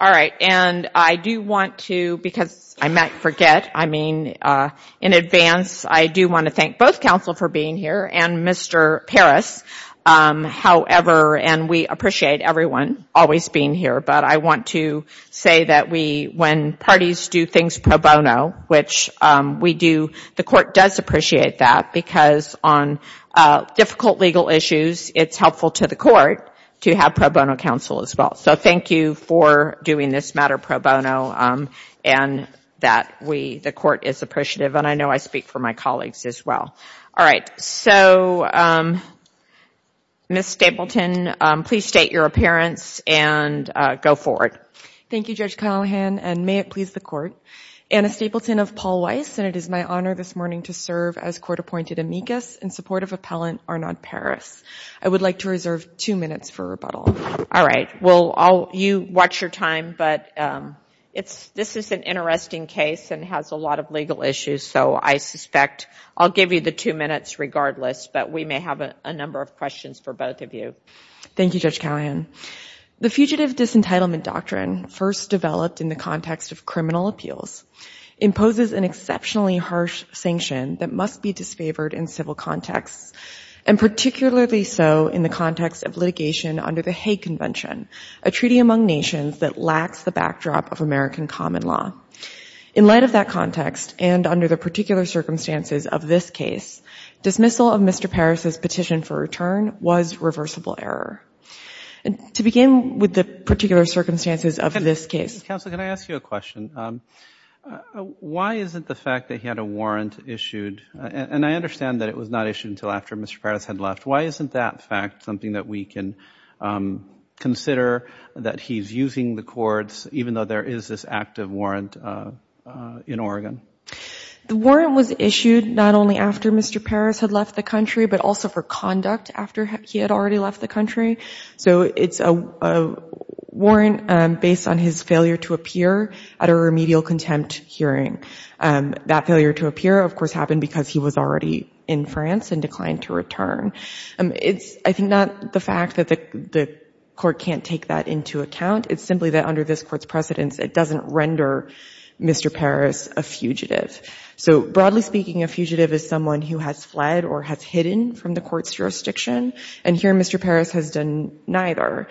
All right, and I do want to, because I might forget, I mean, in advance, I do want to thank both counsel for being here and Mr. Parris, however, and we appreciate everyone always being here, but I want to say that we, when parties do things pro bono, which we do, the court does appreciate that because on difficult legal issues, it's helpful to the court to have pro bono counsel as well. So thank you for doing this matter pro bono, and that we, the court is appreciative, and I know I speak for my colleagues as well. All right, so, Ms. Stapleton, please state your appearance and go forward. Thank you, Judge Callahan, and may it please the court. Anna Stapleton of Paul Weiss, and it is my honor this morning to serve as court-appointed amicus in support of Appellant Arnaud Parris. I would like to reserve two minutes for rebuttal. All right, well, you watch your time, but this is an interesting case and has a lot of legal issues, so I suspect I'll give you the two minutes regardless, but we may have a number of questions for both of you. Thank you, Judge Callahan. The Fugitive Disentitlement Doctrine, first developed in the context of criminal appeals, imposes an exceptionally harsh sanction that must be disfavored in civil contexts, and particularly so in the context of litigation under the Hague Convention, a treaty among nations that lacks the backdrop of American common law. In light of that context, and under the particular circumstances of this case, dismissal of Mr. Parris' petition for return was reversible error. To begin with the particular circumstances of this case Counsel, can I ask you a question? Why is it the fact that he had a warrant issued, and I understand that it was not issued until after Mr. Parris had left. Why isn't that fact something that we can consider, that he's using the courts, even though there is this active warrant in Oregon? The warrant was issued not only after Mr. Parris had left the country, but also for conduct after he had already left the country. So it's a warrant based on his failure to appear at a remedial contempt hearing. That failure to appear, of course, happened because he was already in France and declined to return. It's, I think, not the fact that the court can't take that into account. It's simply that under this court's precedence, it doesn't render Mr. Parris a fugitive. So broadly speaking, a fugitive is someone who has fled or has hidden from the court's jurisdiction, and here Mr. Parris has done neither.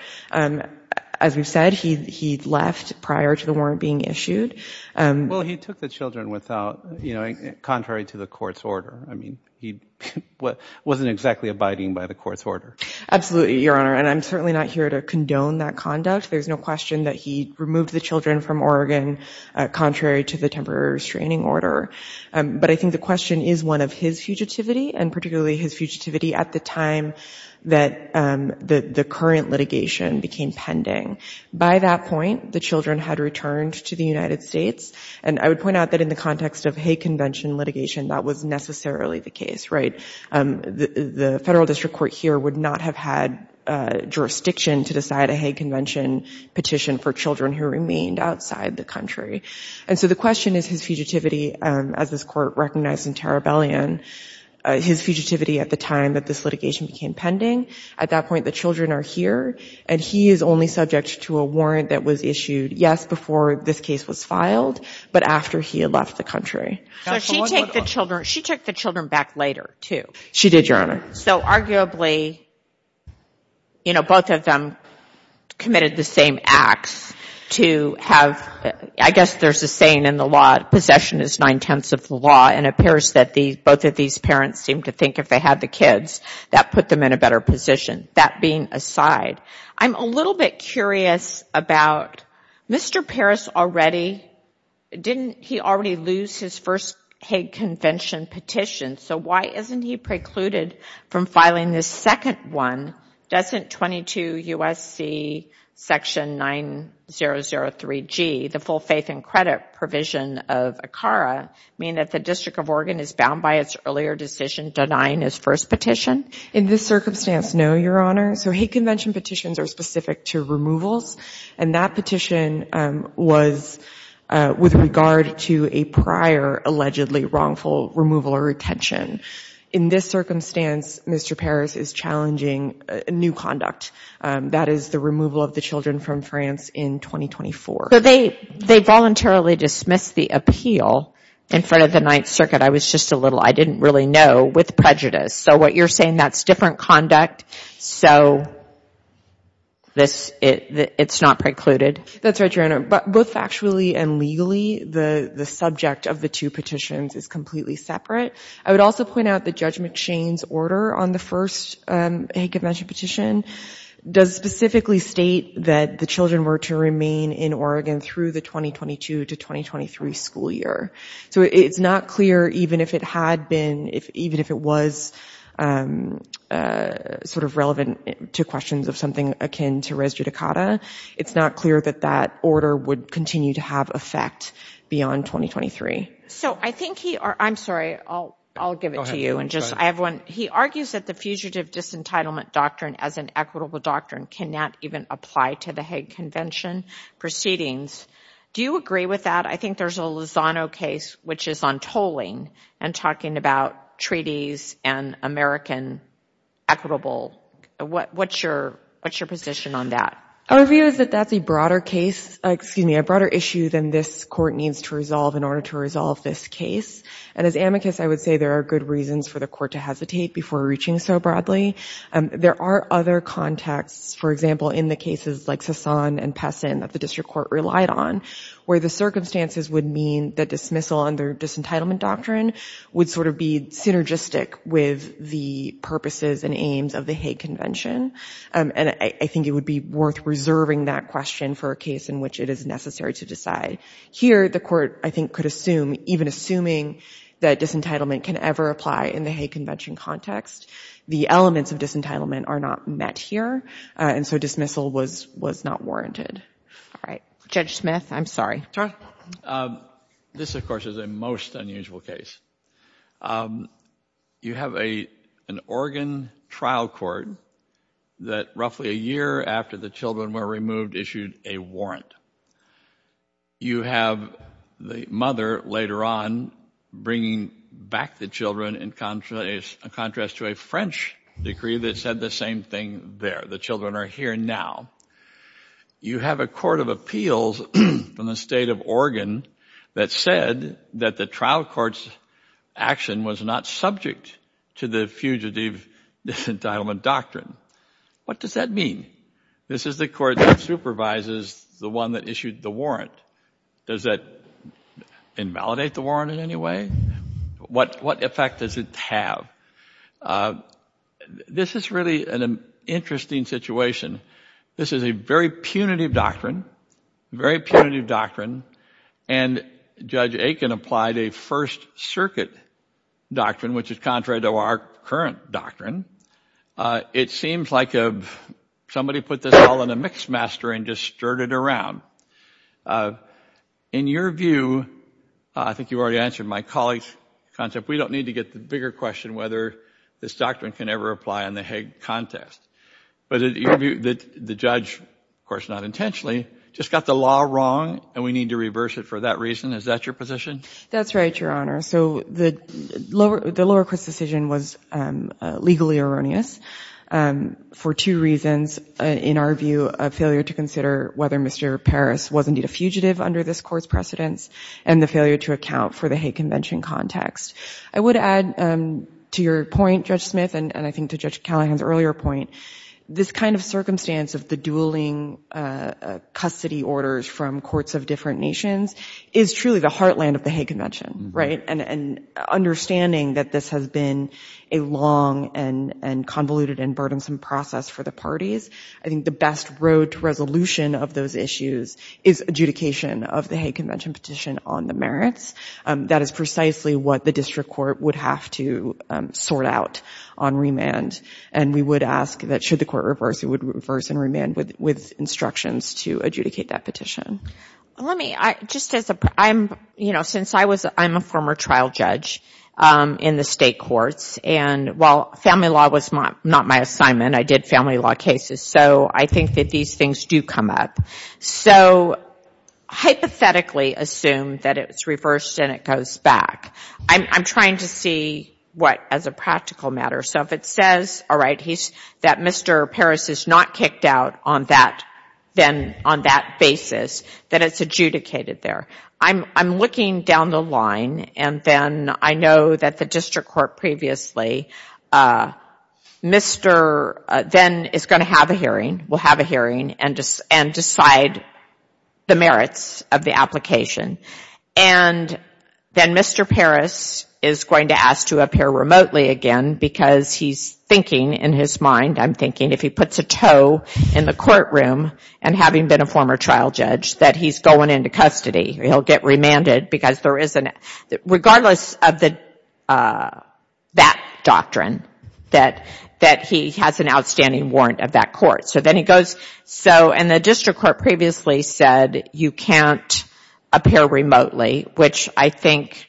As we've said, he left prior to the warrant being issued. Well, he took the children without, you know, contrary to the court's order. I mean, he wasn't exactly abiding by the court's order. Absolutely, Your Honor, and I'm certainly not here to condone that conduct. There's no question that he removed the children from Oregon contrary to the temporary restraining order. But I think the question is one of his fugitivity, and particularly his fugitivity at the time that the current litigation became pending. By that point, the children had returned to the United States, and I would point out that in the context of Hague Convention litigation, that was necessarily the case, right? The Federal District Court here would not have had jurisdiction to decide a Hague Convention petition for children who remained outside the country. And so the question is his fugitivity, as this court recognized in Tarabellion, his fugitivity at the time that this litigation became pending. At that point, the children are here, and he is only subject to a warrant that was issued, yes, before this case was filed, but after he had left the country. So she took the children back later, too? She did, Your Honor. So arguably, you know, both of them committed the same acts to have, I guess there's a saying in the law, possession is nine-tenths of the law, and it appears that both of these parents seem to think if they had the kids, that put them in a better position. That being aside, I'm a little bit curious about Mr. Parris already, didn't he already lose his first Hague Convention petition? So why isn't he precluded from filing this second one? Doesn't 22 U.S.C. section 9003G, the full faith and credit provision of ACARA, mean that the District of Oregon is bound by its earlier decision denying his first petition? In this circumstance, no, Your Honor. So Hague Convention petitions are specific to removals, and that petition was with regard to a prior allegedly wrongful removal or retention. In this circumstance, Mr. Parris is challenging new conduct. That is the removal of the children from France in 2024. So they voluntarily dismissed the appeal in front of the Ninth Circuit. I was just a little, I didn't really know, with prejudice. So what you're saying, that's different conduct, so it's not precluded? That's right, Your Honor. But both factually and legally, the subject of the two petitions is completely separate. I would also point out that Judge McShane's order on the first Hague Convention petition does specifically state that the children were to remain in Oregon through the 2022 to 2023 school year. So it's not clear, even if it had been, even if it was sort of relevant to questions of something akin to res judicata, it's not clear that that order would continue to have effect beyond 2023. So I think he, I'm sorry, I'll give it to you. He argues that the Fugitive Disentitlement Doctrine as an equitable doctrine cannot even apply to the Hague Convention proceedings. Do you agree with that? I think there's a Lozano case which is on tolling and talking about treaties and American equitable. What's your position on that? Our view is that that's a broader case, excuse me, a broader issue than this Court needs to resolve in order to resolve this case. And as amicus, I would say there are good reasons for the Court to hesitate before reaching so broadly. There are other contexts, for example, in the cases like Sasan and Pessin that the District Court relied on, where the circumstances would mean that dismissal under disentitlement doctrine would sort of be synergistic with the purposes and aims of the Hague Convention. And I think it would be worth reserving that question for a case in which it is necessary to decide. Here, the Court I think could assume, even assuming that disentitlement can ever apply in the Hague Convention context, the elements of disentitlement are not met here, and so dismissal was not warranted. All right. Judge Smith, I'm sorry. This of course is a most unusual case. You have an Oregon trial court that roughly a year on bringing back the children in contrast to a French decree that said the same thing there. The children are here now. You have a court of appeals from the state of Oregon that said that the trial court's action was not subject to the fugitive disentitlement doctrine. What does that mean? This is the court that supervises the one that issued the warrant. Does that invalidate the warrant in any way? What effect does it have? This is really an interesting situation. This is a very punitive doctrine, a very punitive doctrine, and Judge Aiken applied a First Circuit doctrine, which is contrary to our current doctrine. It seems like somebody put this all in a mixmaster and just stirred it around. In your view, I think you already answered my colleague's concept, we don't need to get the bigger question whether this doctrine can ever apply in the Hague context. But in your view, the judge, of course not intentionally, just got the law wrong and we need to reverse it for that reason. Is that your position? That's right, Your Honor. So the lower court's decision was legally erroneous for two reasons. In our view, a failure to consider whether Mr. Parris was indeed a fugitive under this court's precedence and the failure to account for the Hague Convention context. I would add to your point, Judge Smith, and I think to Judge Callahan's earlier point, this kind of circumstance of the dueling custody orders from courts of different nations is truly the heartland of the Hague Convention, right? And understanding that this has been a long and convoluted and burdensome process for the parties. I think the best road to resolution of those issues is adjudication of the Hague Convention petition on the merits. That is precisely what the district court would have to sort out on remand. And we would ask that should the court reverse, it would reverse and remand with instructions to adjudicate that petition. Let me, just as a, you know, since I'm a former trial judge in the state courts, and while family law was not my assignment, I did family law cases, so I think that these things do come up. So hypothetically assume that it's reversed and it goes back. I'm trying to see what as a practical matter. So if it says, all right, that Mr. Parris is not kicked out on that, then on that basis, that it's adjudicated there. I'm looking down the line and then I know that the district court previously, Mr. then is going to have a hearing, will have a hearing and decide the merits of the application. And then Mr. Parris is going to ask to appear remotely again because he's thinking in his mind, I'm thinking if he puts a toe in the courtroom and having been a former trial judge, that he's going into custody. He'll get remanded because there isn't, regardless of that doctrine, that he has an outstanding warrant of that court. So then he goes, so and the district court previously said you can't appear remotely, which I think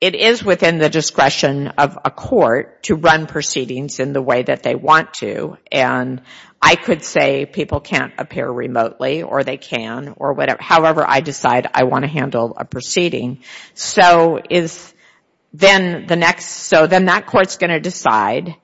it is within the discretion of a court to run proceedings in the way that they want to. And I could say people can't appear remotely or they can or whatever. However, I decide I want to handle a proceeding. So is then the next, so then that court's going to decide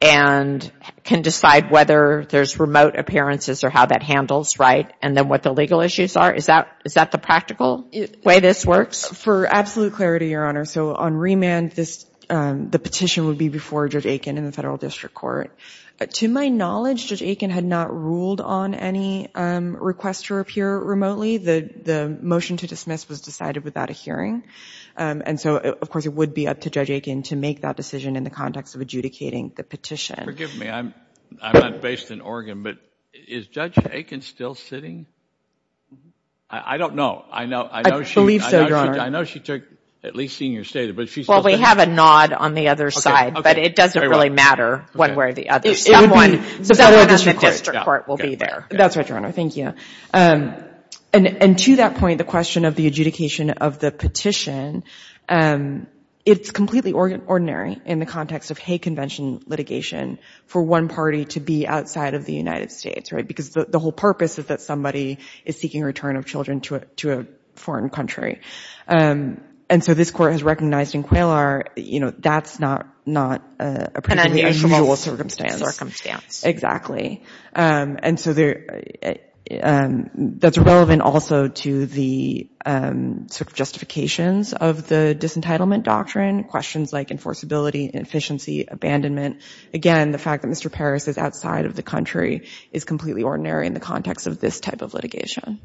and can decide whether there's remote appearances or how that handles, right? And then what the legal issues are. Is that the practical way this works? For absolute clarity, Your Honor, so on remand, the petition would be before Judge Aiken and the federal district court. To my knowledge, Judge Aiken had not ruled on any request to appear remotely. The motion to dismiss was decided without a hearing. And so, of course, it would be up to Judge Aiken to make that decision in the context of adjudicating the petition. Forgive me, I'm not based in Oregon, but is Judge Aiken still sitting? I don't know. I believe so, Your Honor. I know she took at least senior status, but she's still sitting. We have a nod on the other side, but it doesn't really matter one way or the other. The federal district court will be there. That's right, Your Honor. Thank you. And to that point, the question of the adjudication of the petition, it's completely ordinary in the context of hate convention litigation for one party to be outside of the United States, right? Because the whole purpose is that somebody is seeking return of children to a foreign country. And so this court has recognized in QAILR that's not a particularly unusual circumstance. And so that's relevant also to the justifications of the disentitlement doctrine, questions like enforceability, inefficiency, abandonment. Again, the fact that Mr. Paris is outside of the country is completely ordinary in the context of this type of litigation.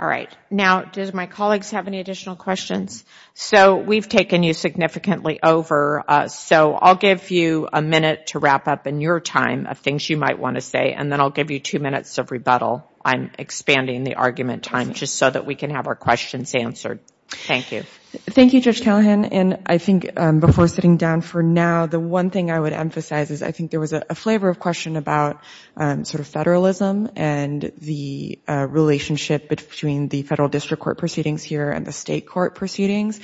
All right. Now, do my colleagues have any additional questions? So we've taken you significantly over. So I'll give you a minute to wrap up in your time of things you might want to say, and then I'll give you two minutes of rebuttal. I'm expanding the argument time just so that we can have our questions answered. Thank you. Thank you, Judge Callahan. And I think before sitting down for now, the one thing I would emphasize is I think there was a flavor of question about sort of federalism and the relationship between the federal district court proceedings here and the state court proceedings.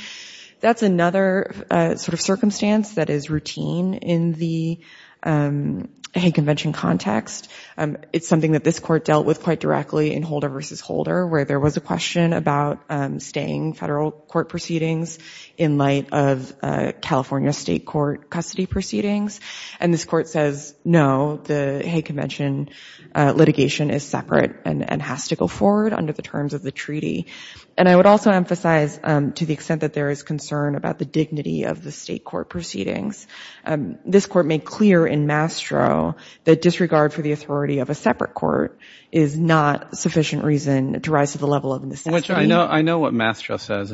That's another sort of circumstance that is routine in the Hague Convention context. It's something that this court dealt with quite directly in Holder v. Holder, where there was a question about staying federal court proceedings in light of California state court custody proceedings. And this court says, no, the Hague Convention litigation is separate and has to go forward under the terms of the treaty. And I would also emphasize to the extent that there is concern about the dignity of the state court proceedings, this court made clear in Mastro that disregard for the authority of a separate court is not sufficient reason to rise to the level of necessity. I know what Mastro says.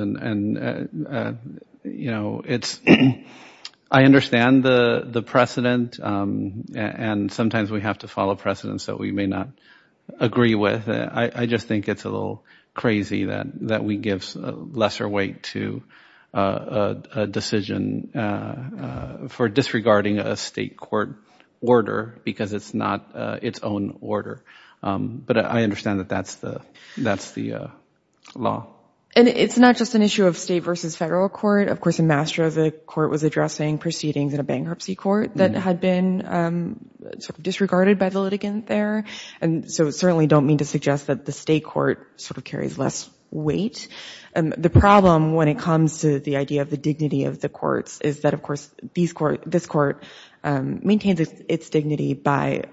I understand the precedent and sometimes we have to follow precedents that we may not agree with. I just think it's a little crazy that we give lesser weight to a decision for disregarding a state court order because it's not its own order. But I understand that that's the law. And it's not just an issue of state versus federal court. Of course, in Mastro, the court was addressing proceedings in a bankruptcy court that had been disregarded by the litigant there. And so I certainly don't mean to suggest that the state court sort of carries less weight. The problem when it comes to the idea of the dignity of the courts is that, of course, this court maintains its dignity by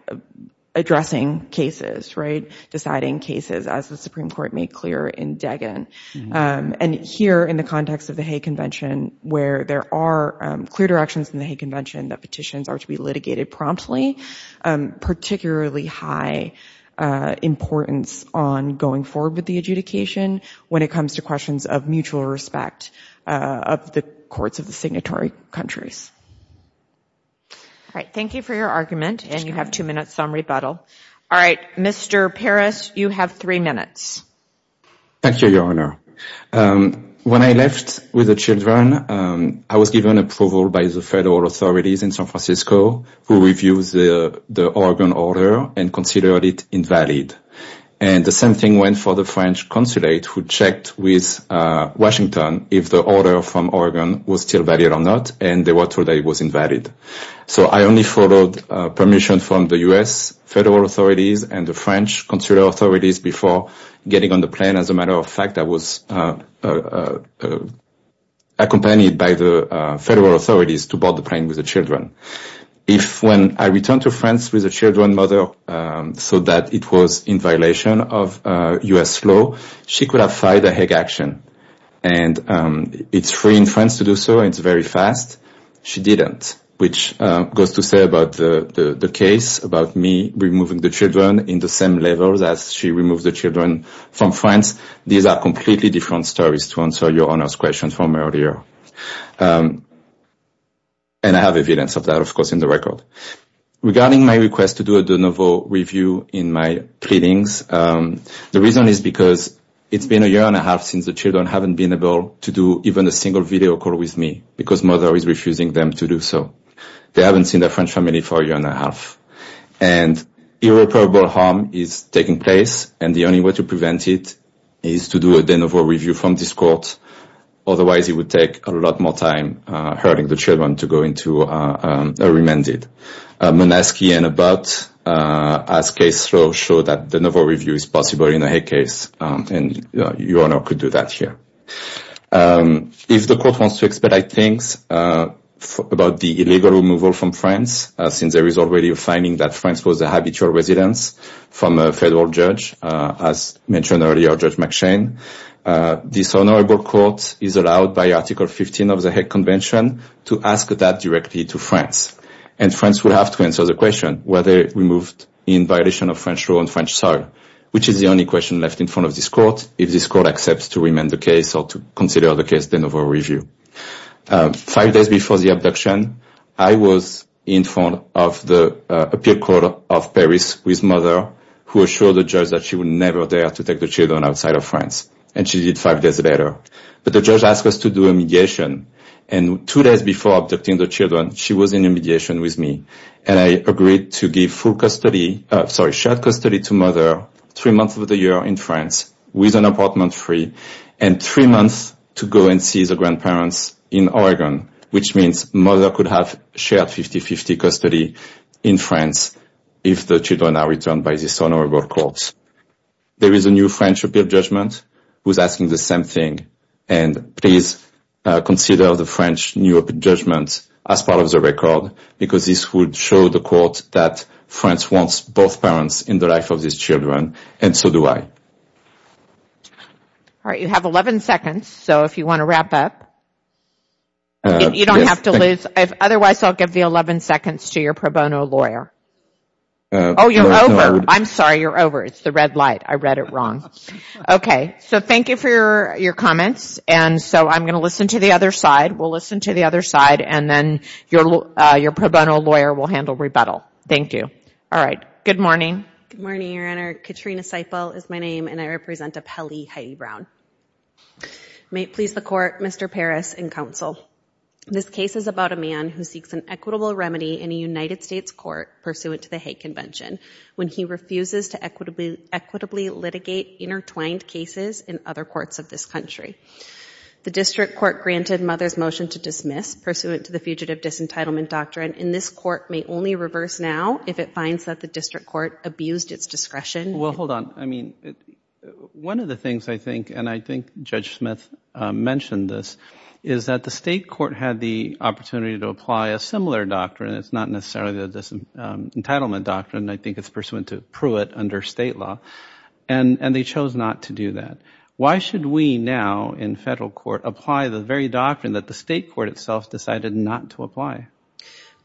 addressing cases, right, deciding cases, as the Supreme Court made clear in Degen. And here in the context of the Hay Convention, where there are clear directions in the Hay Convention that petitions are to be litigated promptly, particularly high importance on going forward with the adjudication when it comes to questions of mutual respect of the courts of the signatory countries. All right. Thank you for your argument. And you have two minutes on rebuttal. All right. Mr. Peres, you have three minutes. Thank you, Your Honor. When I left with the children, I was given approval by the federal authorities in San Francisco who reviews the Oregon order and considered it invalid. And the same thing went for the French consulate who checked with Washington if the order from Oregon was still valid or not. And they were told that it was invalid. So I only followed permission from the U.S. federal authorities and the French consular authorities before getting on the plane. As a matter of fact, I was accompanied by the federal authorities to board the plane with the children. If when I returned to France with the children, mother, so that it was in violation of U.S. law, she could have filed a Hague action. And it's free in France to do so. It's very fast. She didn't, which goes to say about the case about me removing the children in the same level that she removed the children from France. These are completely different stories to answer Your Honor's question from earlier. And I have evidence of that, of course, in the record. Regarding my request to do a de novo review in my pleadings, the reason is because it's been a year and a half since the children haven't been able to do even a single video call with me because mother is refusing them to do so. They haven't seen their French family for a year and a half. And irreparable harm is taking place. And the only way to prevent it is to do a de novo review from this court. Otherwise, it would take a lot more time hurting the children to go into a court and be remanded. Monaski and Abbott, as case law, show that de novo review is possible in a Hague case. And Your Honor could do that here. If the court wants to expedite things about the illegal removal from France, since there is already a finding that France was a habitual residence from a federal judge, as mentioned earlier, Judge McShane, this honorable court is 15 of the Hague Convention to ask that directly to France. And France would have to answer the question whether it was removed in violation of French law and French soil, which is the only question left in front of this court if this court accepts to remand the case or to consider the case de novo review. Five days before the abduction, I was in front of the appeal court of Paris with mother, who assured the judge that she would never dare to take the children outside of France. And she did five days later. But the judge asked us to do a mediation. And two days before abducting the children, she was in a mediation with me. And I agreed to give full custody, sorry, shared custody to mother three months of the year in France with an apartment free, and three months to go and see the grandparents in Oregon, which means mother could have shared 50-50 custody in France if the children are returned by this honorable court. There is a new French appeal judgment who's asking the same thing. And please consider the French new judgment as part of the record, because this would show the court that France wants both parents in the life of these children, and so do I. All right, you have 11 seconds. So if you want to wrap up, you don't have to lose. Otherwise, I'll give the 11 seconds to your pro bono lawyer. Oh, you're over. I'm sorry, you're over. It's the red light. I read it wrong. Okay, so thank you for your comments. And so I'm going to listen to the other side. We'll listen to the other side. And then your pro bono lawyer will handle rebuttal. Thank you. All right. Good morning. Good morning, Your Honor. Katrina Seifel is my name, and I represent Appellee Heidi Brown. May it please the court, Mr. Parris, and counsel. This case is about a man who seeks an equitable remedy in a United States court pursuant to the Hague Convention, when he refuses to equitably litigate intertwined cases in other courts of this country. The district court granted mother's motion to dismiss pursuant to the fugitive disentitlement doctrine, and this court may only reverse now if it finds that the district court abused its discretion. Well, hold on. I mean, one of the things I think, and I think Judge Smith mentioned this, is that the state court had the opportunity to apply a similar doctrine. It's not necessarily the disentitlement doctrine. I think it's pursuant to Pruitt under state law. And they chose not to do that. Why should we now, in federal court, apply the very doctrine that the state court itself decided not to apply?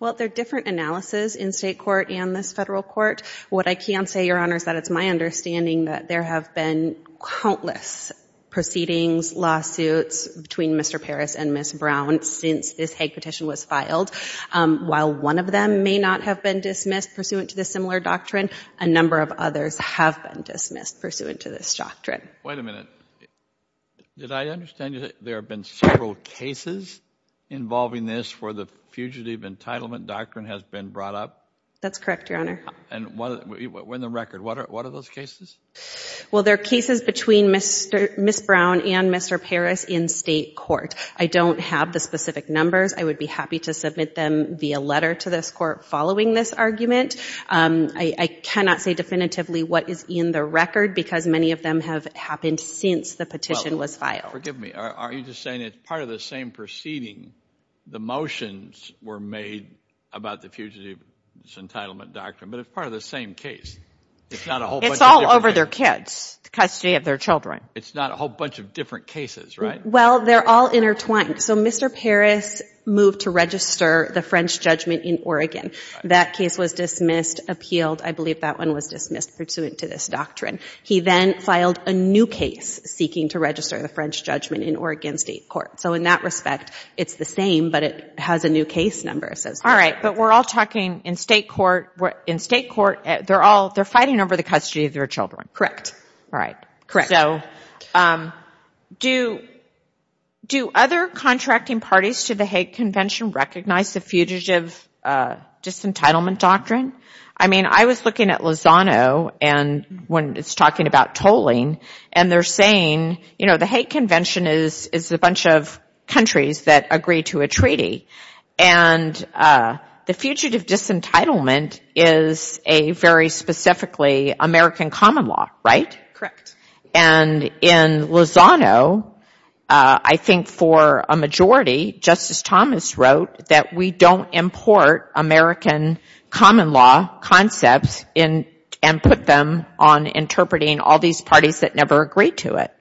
Well, they're different analysis in state court and this federal court. What I can say, Your Honor, is that it's my understanding that there have been countless proceedings, lawsuits, between Mr. Parris and Ms. Brown since this Hague petition was filed. While one of them may not have been dismissed pursuant to this similar doctrine, a number of others have been dismissed pursuant to this doctrine. Wait a minute. Did I understand that there have been several cases involving this where the fugitive entitlement doctrine has been brought up? That's correct, Your Honor. And in the record, what are those cases? Well, they're cases between Ms. Brown and Mr. Parris in state court. I don't have the specific numbers. I would be happy to submit them via letter to this court following this argument. I cannot say definitively what is in the record because many of them have happened since the petition was filed. Well, forgive me. Are you just saying it's part of the same proceeding the motions were made about the fugitive entitlement doctrine, but it's part of the same case? It's all over their kids, the custody of their children. It's not a whole bunch of different cases, right? Well, they're all intertwined. So Mr. Parris moved to register the French judgment in Oregon. That case was dismissed, appealed. I believe that one was dismissed pursuant to this doctrine. He then filed a new case seeking to register the French judgment in Oregon state court. So in that respect, it's the same, but it has a new case number. All right. But we're all talking in state court, they're fighting over the custody of their children. Correct. All right. Correct. So do other contracting parties to the Hague Convention recognize the fugitive disentitlement doctrine? I mean, I was looking at Lozano when it's talking about tolling and they're saying, you know, the Hague Convention is a bunch of countries that agree to a treaty. And the fugitive disentitlement is a very specifically American common law, right? Correct. And in Lozano, I think for a majority, Justice Thomas wrote that we don't import American common law concepts and put them on interpreting all these parties that never agreed to it.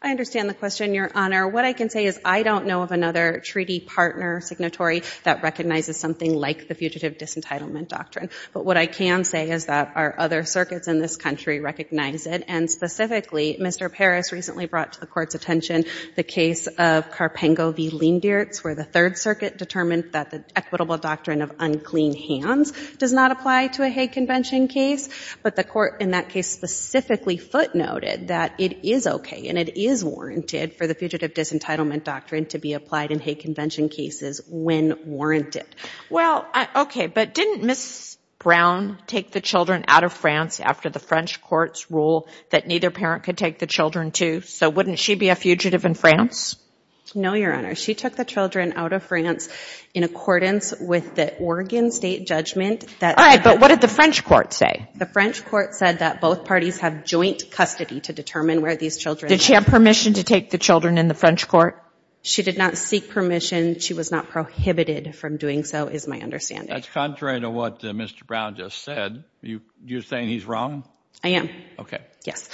I understand the question, Your Honor. What I can say is I don't know of another treaty partner signatory that recognizes something like the fugitive disentitlement doctrine. But what I can say is that our other circuits in this country recognize it. And specifically, Mr. Parris recently brought to the Court's attention the case of Carpengo v. Leendertz, where the Third Circuit determined that the equitable doctrine of unclean hands does not apply to a Hague Convention case. But the Court in that case specifically footnoted that it is okay and it is warranted for the fugitive disentitlement doctrine to be applied in Hague Convention cases when warranted. Well, okay, but didn't Ms. Brown take the children out of France after the French Court's rule that neither parent could take the children to? So wouldn't she be a fugitive in France? No, Your Honor. She took the children out of France in accordance with the Oregon State Judgment. All right, but what did the French Court say? The French Court said that both parties have joint custody to determine where these children... Did she have permission to take the children in the French Court? She did not seek permission. She was not prohibited from doing so, is my understanding. That's contrary to what Mr. Brown just said. You're saying he's wrong? I am. Okay. Yes.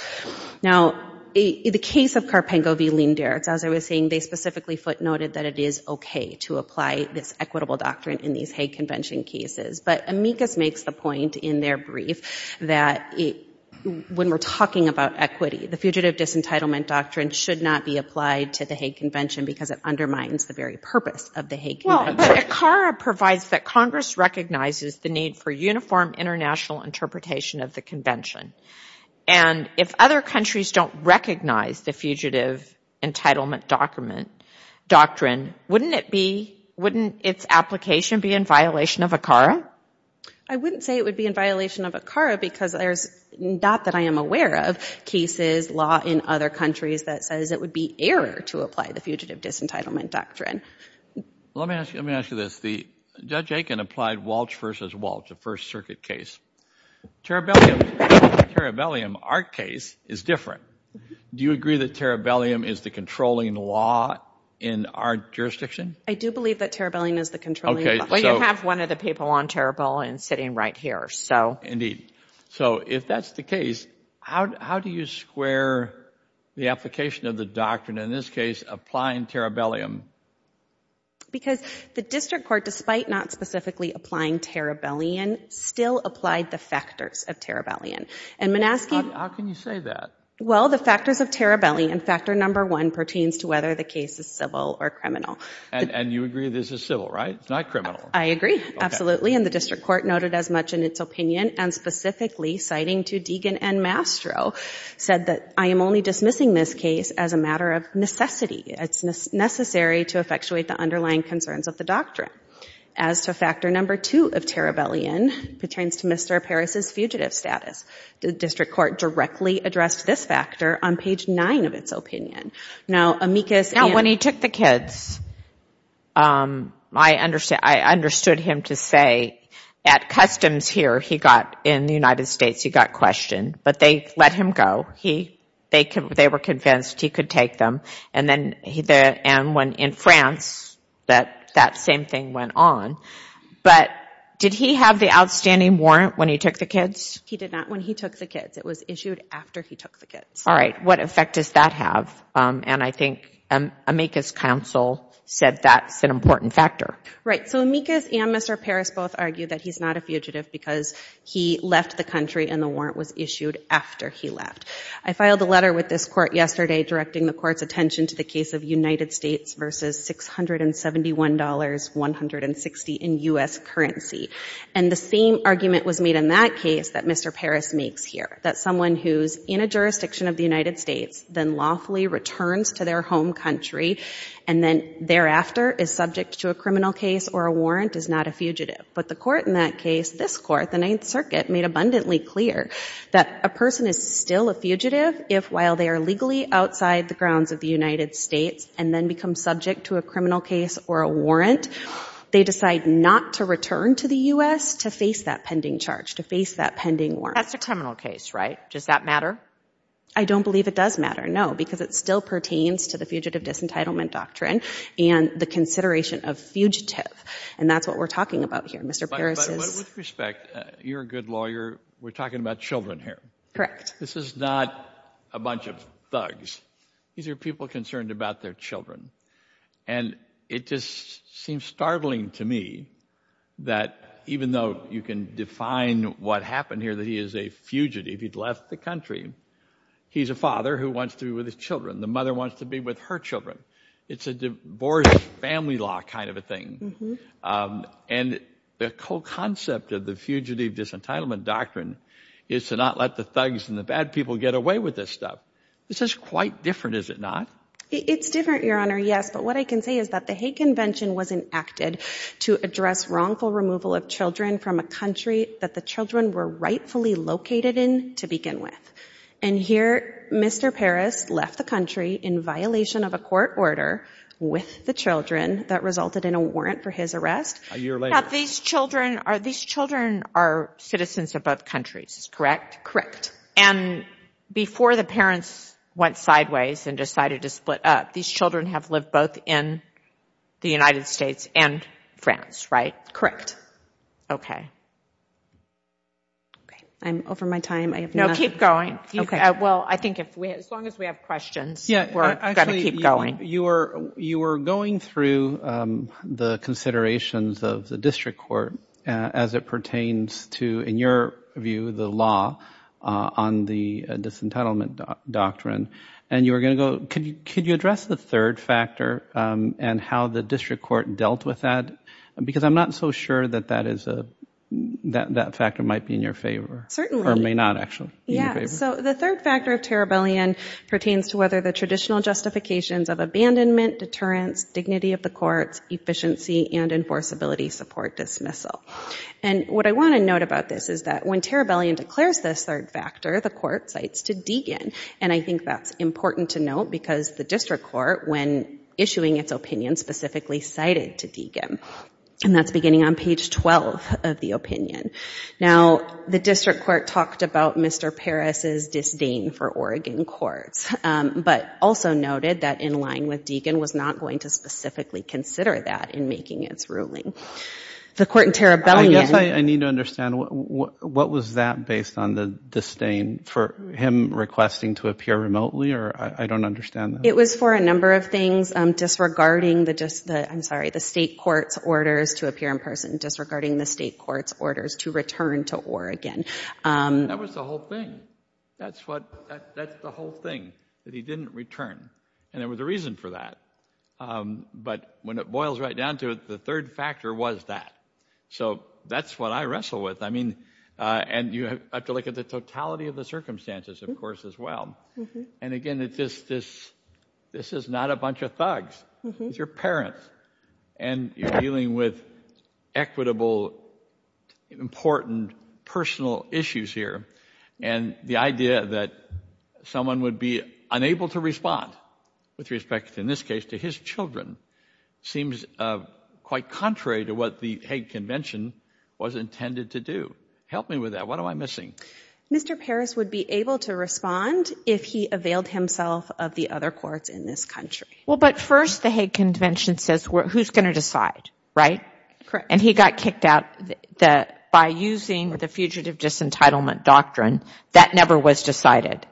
Now, the case of Carpengo v. Leendertz, as I was saying, they specifically footnoted that it is okay to apply this equitable doctrine in these Hague when we're talking about equity. The fugitive disentitlement doctrine should not be applied to the Hague Convention because it undermines the very purpose of the Hague Convention. Well, but ACARA provides that Congress recognizes the need for uniform international interpretation of the convention. And if other countries don't recognize the fugitive entitlement doctrine, wouldn't it be, wouldn't its application be in violation of ACARA? I wouldn't say it would be in violation of ACARA because there's, not that I am aware of, cases, law in other countries that says it would be error to apply the fugitive disentitlement doctrine. Let me ask you this. Judge Aiken applied Walsh v. Walsh, a First Circuit case. Terrabellum, our case is different. Do you agree that Terrabellum is the controlling law in our jurisdiction? I do believe that Terrabellum is the controlling law. Well, I have one of the people on Terrabellum sitting right here, so. Indeed. So if that's the case, how do you square the application of the doctrine, in this case, applying Terrabellum? Because the district court, despite not specifically applying Terrabellum, still applied the factors of Terrabellum. How can you say that? Well, the factors of Terrabellum, and factor number one, pertains to whether the case is civil or criminal. And you agree this is civil, right? It's not criminal. I agree, absolutely. And the district court noted as much in its opinion, and specifically citing to Deegan and Mastro, said that I am only dismissing this case as a matter of necessity. It's necessary to effectuate the underlying concerns of the doctrine. As to factor number two of Terrabellum, pertains to Mr. Parris's fugitive status. The district court directly addressed this factor on page nine of its opinion. Now, Amicus. Now, when he took the kids, I understood him to say, at customs here, he got, in the United States, he got questioned. But they let him go. They were convinced he could take them. And when in France, that same thing went on. But did he have the outstanding warrant when he took the kids? He did not, when he took the kids. It was issued after he took the kids. All right. What effect does that have? And I think Amicus' counsel said that's an important factor. Right. So, Amicus and Mr. Parris both argue that he's not a fugitive because he left the country and the warrant was issued after he left. I filed a letter with this court yesterday, directing the court's attention to the case of United States versus $671.160 in U.S. currency. And the same argument was made in that case that Mr. Parris makes here. That someone who's in a jurisdiction of the United States, then lawfully returns to their home country, and then thereafter is subject to a criminal case or a warrant, is not a fugitive. But the court in that case, this court, the Ninth Circuit, made abundantly clear that a person is still a fugitive if, while they are legally outside the grounds of the United States and then become subject to a criminal case or a warrant, they decide not to return to the U.S. to face that pending charge, to face that pending warrant. That's a criminal case, right? Does that matter? I don't believe it does matter, no, because it still pertains to the fugitive disentitlement doctrine and the consideration of fugitive. And that's what we're talking about here, Mr. Parris. But with respect, you're a good lawyer. We're talking about children here. Correct. This is not a bunch of thugs. These are people concerned about their children. And it just seems startling to me that even though you can define what happened here, that he is a fugitive, he'd left the country. He's a father who wants to be with his children. The mother wants to be with her children. It's a divorce family law kind of a thing. And the whole concept of the fugitive disentitlement doctrine is to not let the thugs and the bad people get away with this stuff. This is quite different, is it not? It's different, Your Honor, yes. But what I can say is that the Hague Convention was enacted to address wrongful removal of children from a country that the children were rightfully located in to begin with. And here, Mr. Parris left the country in violation of a court order with the children that resulted in a warrant for his arrest. A year later. These children are citizens of both countries, correct? Correct. And before the parents went sideways and decided to split up, these children have lived both in the United States and France, right? Correct. I'm over my time. No, keep going. Well, I think as long as we have questions, we're going to keep going. You were going through the considerations of the district court as it pertains to, in your view, the law on the disentitlement doctrine. And you were going to go, could you address the third factor and how the district court dealt with that? Because I'm not so sure that that factor might be in your favor. Certainly. Or may not, actually, in your favor. So the third factor of Terrabellion pertains to whether the traditional justifications of abandonment, deterrence, dignity of the courts, efficiency, and enforceability support dismissal. And what I want to note about this is that when Terrabellion declares this third factor, the court cites to Deegan. And I think that's important to note because the district court, when issuing its opinion, specifically cited to Deegan. And that's beginning on page 12 of the opinion. Now, the district court talked about Mr. Paris's disdain for Oregon courts, but also noted that in line with Deegan was not going to specifically consider that in making its ruling. The court in Terrabellion. I guess I need to understand, what was that based on, the disdain for him requesting to appear remotely? Or I don't understand that. It was for a number of things. Disregarding the, I'm sorry, the state court's orders to appear in person. Disregarding the state court's orders to return to Oregon. That was the whole thing. That's what, that's the whole thing, that he didn't return. And there was a reason for that. But when it boils right down to it, the third factor was that. So that's what I wrestle with. I mean, and you have to look at the totality of the circumstances, of course, as well. And again, it's just this, this is not a bunch of thugs. It's your parents. And you're dealing with equitable, important, personal issues here. And the idea that someone would be unable to respond, with respect, in this case, to his children, seems quite contrary to what the Hague Convention was intended to do. Help me with that. What am I missing? Mr. Paris would be able to respond if he availed himself of the other courts in this country. Well, but first, the Hague Convention says who's going to decide, right? Correct. And he got kicked out by using the fugitive disentitlement doctrine. That never was decided.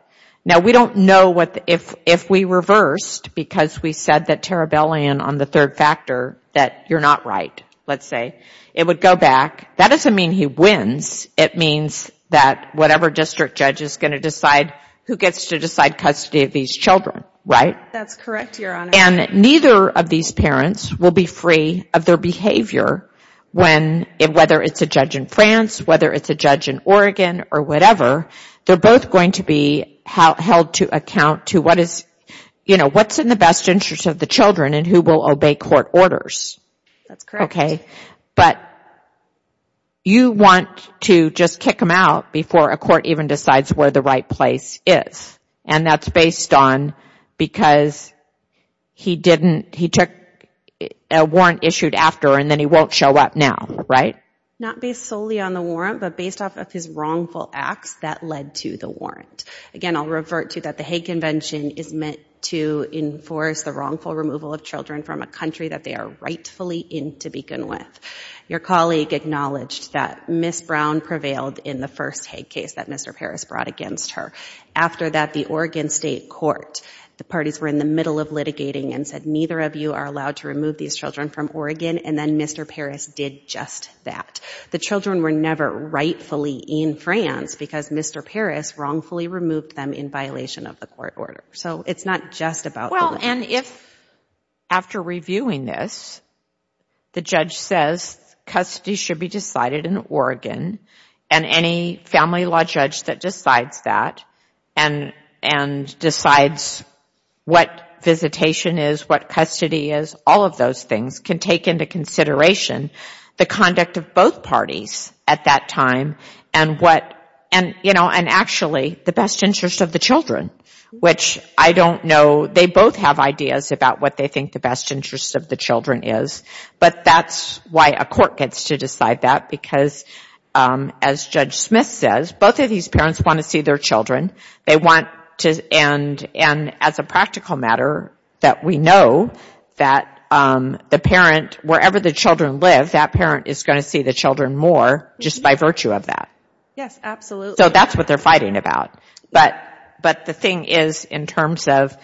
Now, we don't know what, if we reversed, because we said that Terrabellum on the third factor, that you're not right, let's say, it would go back. That doesn't mean he wins. It means that whatever district judge is going to decide, who gets to decide custody of these children, right? That's correct, Your Honor. And neither of these parents will be free of their behavior when, whether it's a judge in France, whether it's a judge in Oregon, or whatever, they're both going to be held to account to what is, you know, what's in the best interest of the children and who will obey court orders. That's correct. Okay. But you want to just kick him out before a court even decides where the right place is. And that's based on because he didn't, he took a warrant issued after, and then he won't show up now, right? Not based solely on the warrant, but based off of his wrongful acts that led to the warrant. Again, I'll revert to that the Hague Convention is meant to enforce the wrongful removal of children from a country that they are rightfully in to begin with. Your colleague acknowledged that Ms. Brown prevailed in the first Hague case that Mr. Paris brought against her. After that, the Oregon State Court, the parties were in the middle of litigating and said, neither of you are allowed to remove these children from Oregon. And then Mr. Paris did just that. The children were never rightfully in France because Mr. Paris wrongfully removed them in violation of the court order. So it's not just about... Well, and if after reviewing this, the judge says custody should be decided in Oregon and any family law judge that decides that and decides what visitation is, what custody is, all of those things can take into consideration the conduct of both parties at that time and what, and you know, and actually the best interest of the children, which I don't know, they both have ideas about what they think the best interest of the children is, but that's why a court gets to decide that because as Judge Smith says, both of these parents want to see their children. They want to, and as a practical matter, that we know that the parent, wherever the children live, that parent is going to see the children more just by virtue of that. Yes, absolutely. So that's what they're fighting about. But the thing is in terms of,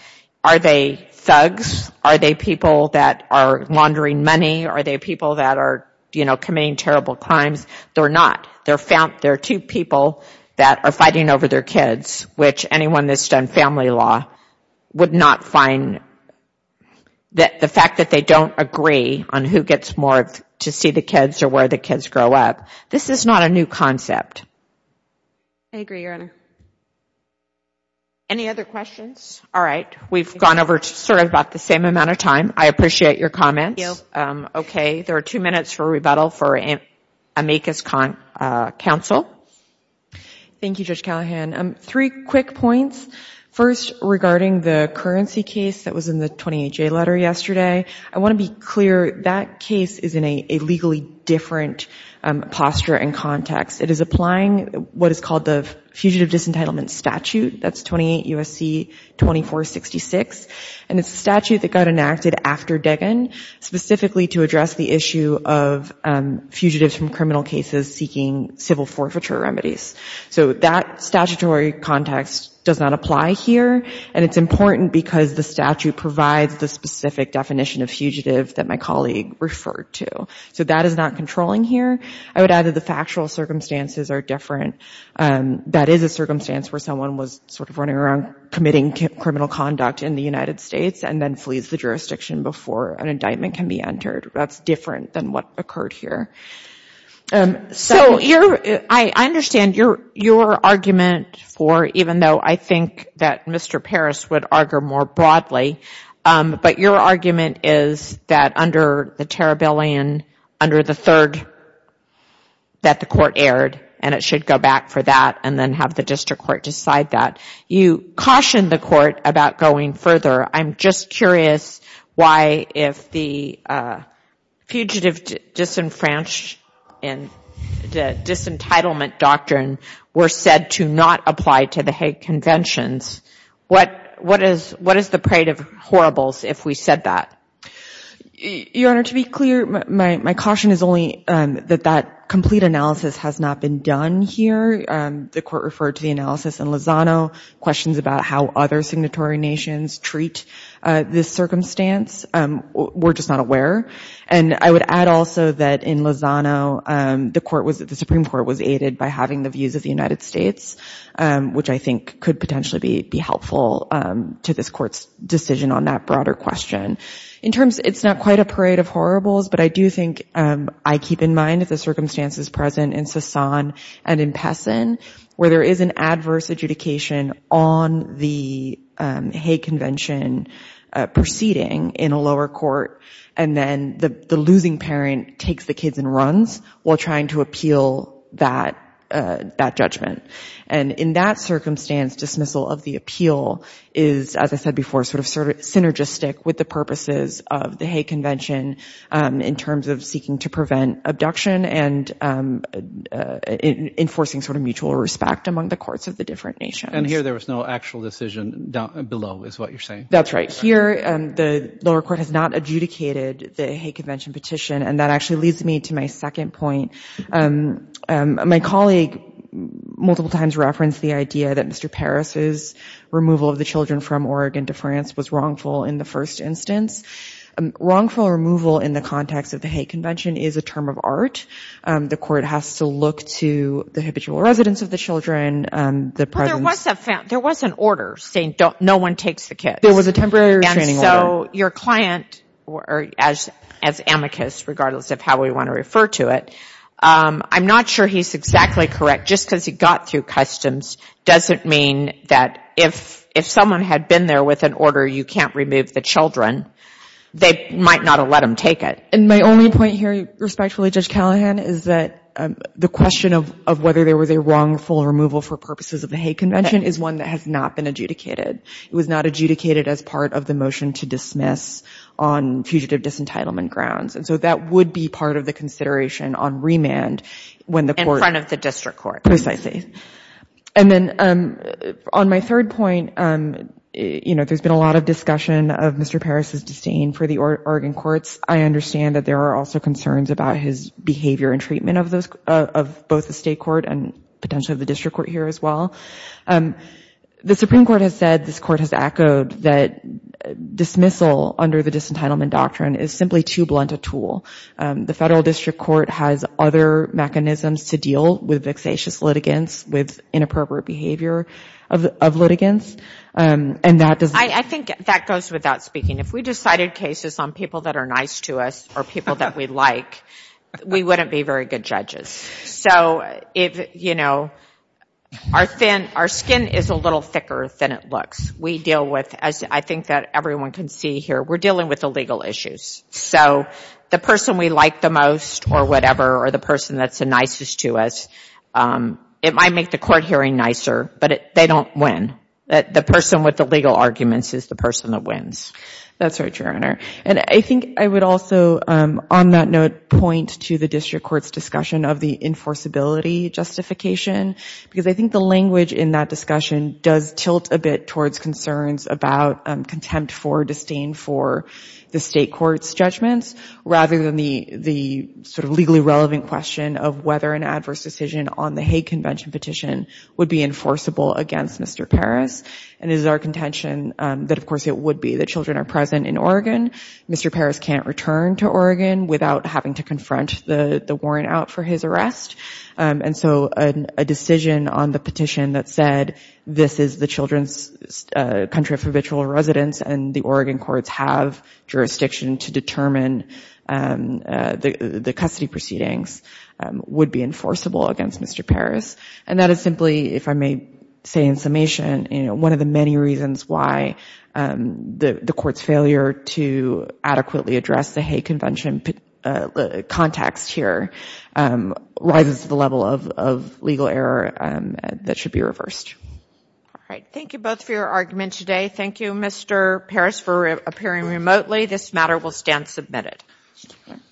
are they thugs? Are they people that are laundering money? Are they people that are, you know, committing terrible crimes? They're not. They're two people that are fighting over their kids, which anyone that's done family law would not find that the fact that they don't agree on who gets more to see the kids or where the kids grow up. This is not a new concept. I agree, Your Honor. Any other questions? All right. We've gone over sort of about the same amount of time. I appreciate your comments. Okay. There are two minutes for rebuttal for amicus counsel. Thank you, Judge Callahan. Three quick points. First, regarding the currency case that was in the 28-J letter yesterday. I want to be clear, that case is in a legally different posture and context. It is applying what is called the Fugitive Disentitlement Statute. That's 28 USC 2466. And it's a statute that got enacted after Deggan specifically to address the issue of fugitives from criminal cases seeking civil forfeiture remedies. So that statutory context does not apply here. And it's important because the statute provides the specific definition of fugitive that my colleague referred to. So that is not controlling here. I would add that the factual circumstances are different. That is a circumstance where someone was sort of running around committing criminal conduct in the United States and then flees the jurisdiction before an indictment can be entered. That's different than what occurred here. So I understand your argument for, even though I think that Mr. Parris would argue more broadly, but your argument is that under the Terriblean, under the third that the court aired, and it should go back for that and then have the district court decide that. You cautioned the court about going further. I'm just curious why if the Fugitive Disenfranchisement and Disentitlement Doctrine were said to not apply to the Hague Conventions, what is the parade of horribles if we said that? Your Honor, to be clear, my caution is only that that complete analysis has not been done here. The court referred to the analysis in Lozano. Questions about how other signatory nations treat this circumstance, we're just not aware. And I would add also that in Lozano, the Supreme Court was aided by having the views of the United States, which I think could potentially be helpful to this Court's decision on that broader question. In terms, it's not quite a parade of horribles, but I do think I keep in mind that the circumstances present in Sasan and in Pessin, where there is an adverse adjudication on the Hague Convention proceeding in a lower court, and then the losing parent takes the kids and runs while trying to appeal that judgment. And in that circumstance, dismissal of the appeal is, as I said before, sort of synergistic with the purposes of the Hague Convention in terms of seeking to prevent abduction and enforcing sort of mutual respect among the courts of the different nations. And here there was no actual decision below is what you're saying? That's right. Here, the lower court has not adjudicated the Hague Convention petition, and that actually leads me to my second point. My colleague multiple times referenced the idea that Mr. Paris's removal of the children from Oregon to France was wrongful in the first instance. Wrongful removal in the context of the Hague Convention is a term of art. The Court has to look to the habitual residents of the children. There was an order saying no one takes the kids. There was a temporary restraining order. And so your client, as amicus regardless of how we want to refer to it, I'm not sure he's exactly correct. Just because he got through customs doesn't mean that if someone had been there with an order you can't remove the children, they might not have let him take it. And my only point here respectfully, Judge Callahan, is that the question of whether there was a wrongful removal for purposes of the Hague Convention is one that has not been adjudicated. It was not adjudicated as part of the motion to dismiss on fugitive disentitlement grounds. And so that would be part of the consideration on remand when the Court is in front of the District Court. Precisely. And then on my third point, you know, there's been a lot of discussion of Mr. Parris's disdain for the Oregon courts. I understand that there are also concerns about his behavior and treatment of both the State Court and potentially the District Court here as well. The Supreme Court has said, this Court has echoed, that dismissal under the disentitlement doctrine is simply too blunt a tool. The Federal District Court has other mechanisms to deal with vexatious litigants, with inappropriate behavior of litigants, and that does... I think that goes without speaking. If we decided cases on people that are nice to us or people that we like, we wouldn't be very good judges. So if, you know, our skin is a little thicker than it looks. We deal with, as I think that everyone can see here, we're dealing with legal issues. So the person we like the most or whatever, or the person that's the nicest to us, it might make the Court hearing nicer, but they don't win. The person with the legal arguments is the person that wins. That's right, Your Honor. And I think I would also, on that note, point to the District Court's discussion of the enforceability justification, because I think the language in that discussion does tilt a bit towards concerns about contempt for disdain for the State Court's judgments, rather than the sort of legally relevant question of whether an adverse decision on the Hague Convention petition would be enforceable against Mr. Paris. And it is our contention that, of course, it would be. The children are present in Oregon. Mr. Paris can't return to Oregon without having to confront the warrant out for his arrest. And so a decision on the petition that said, this is the children's country of habitual residence and the Oregon courts have jurisdiction to determine the custody proceedings would be enforceable against Mr. Paris. And that is simply, if I may say in summation, one of the many reasons why the Court's failure to adequately address the Hague Convention context here rises to the level of legal error that should be reversed. All right. Thank you both for your argument today. Thank you, Mr. Paris, for appearing remotely. This matter will stand submitted.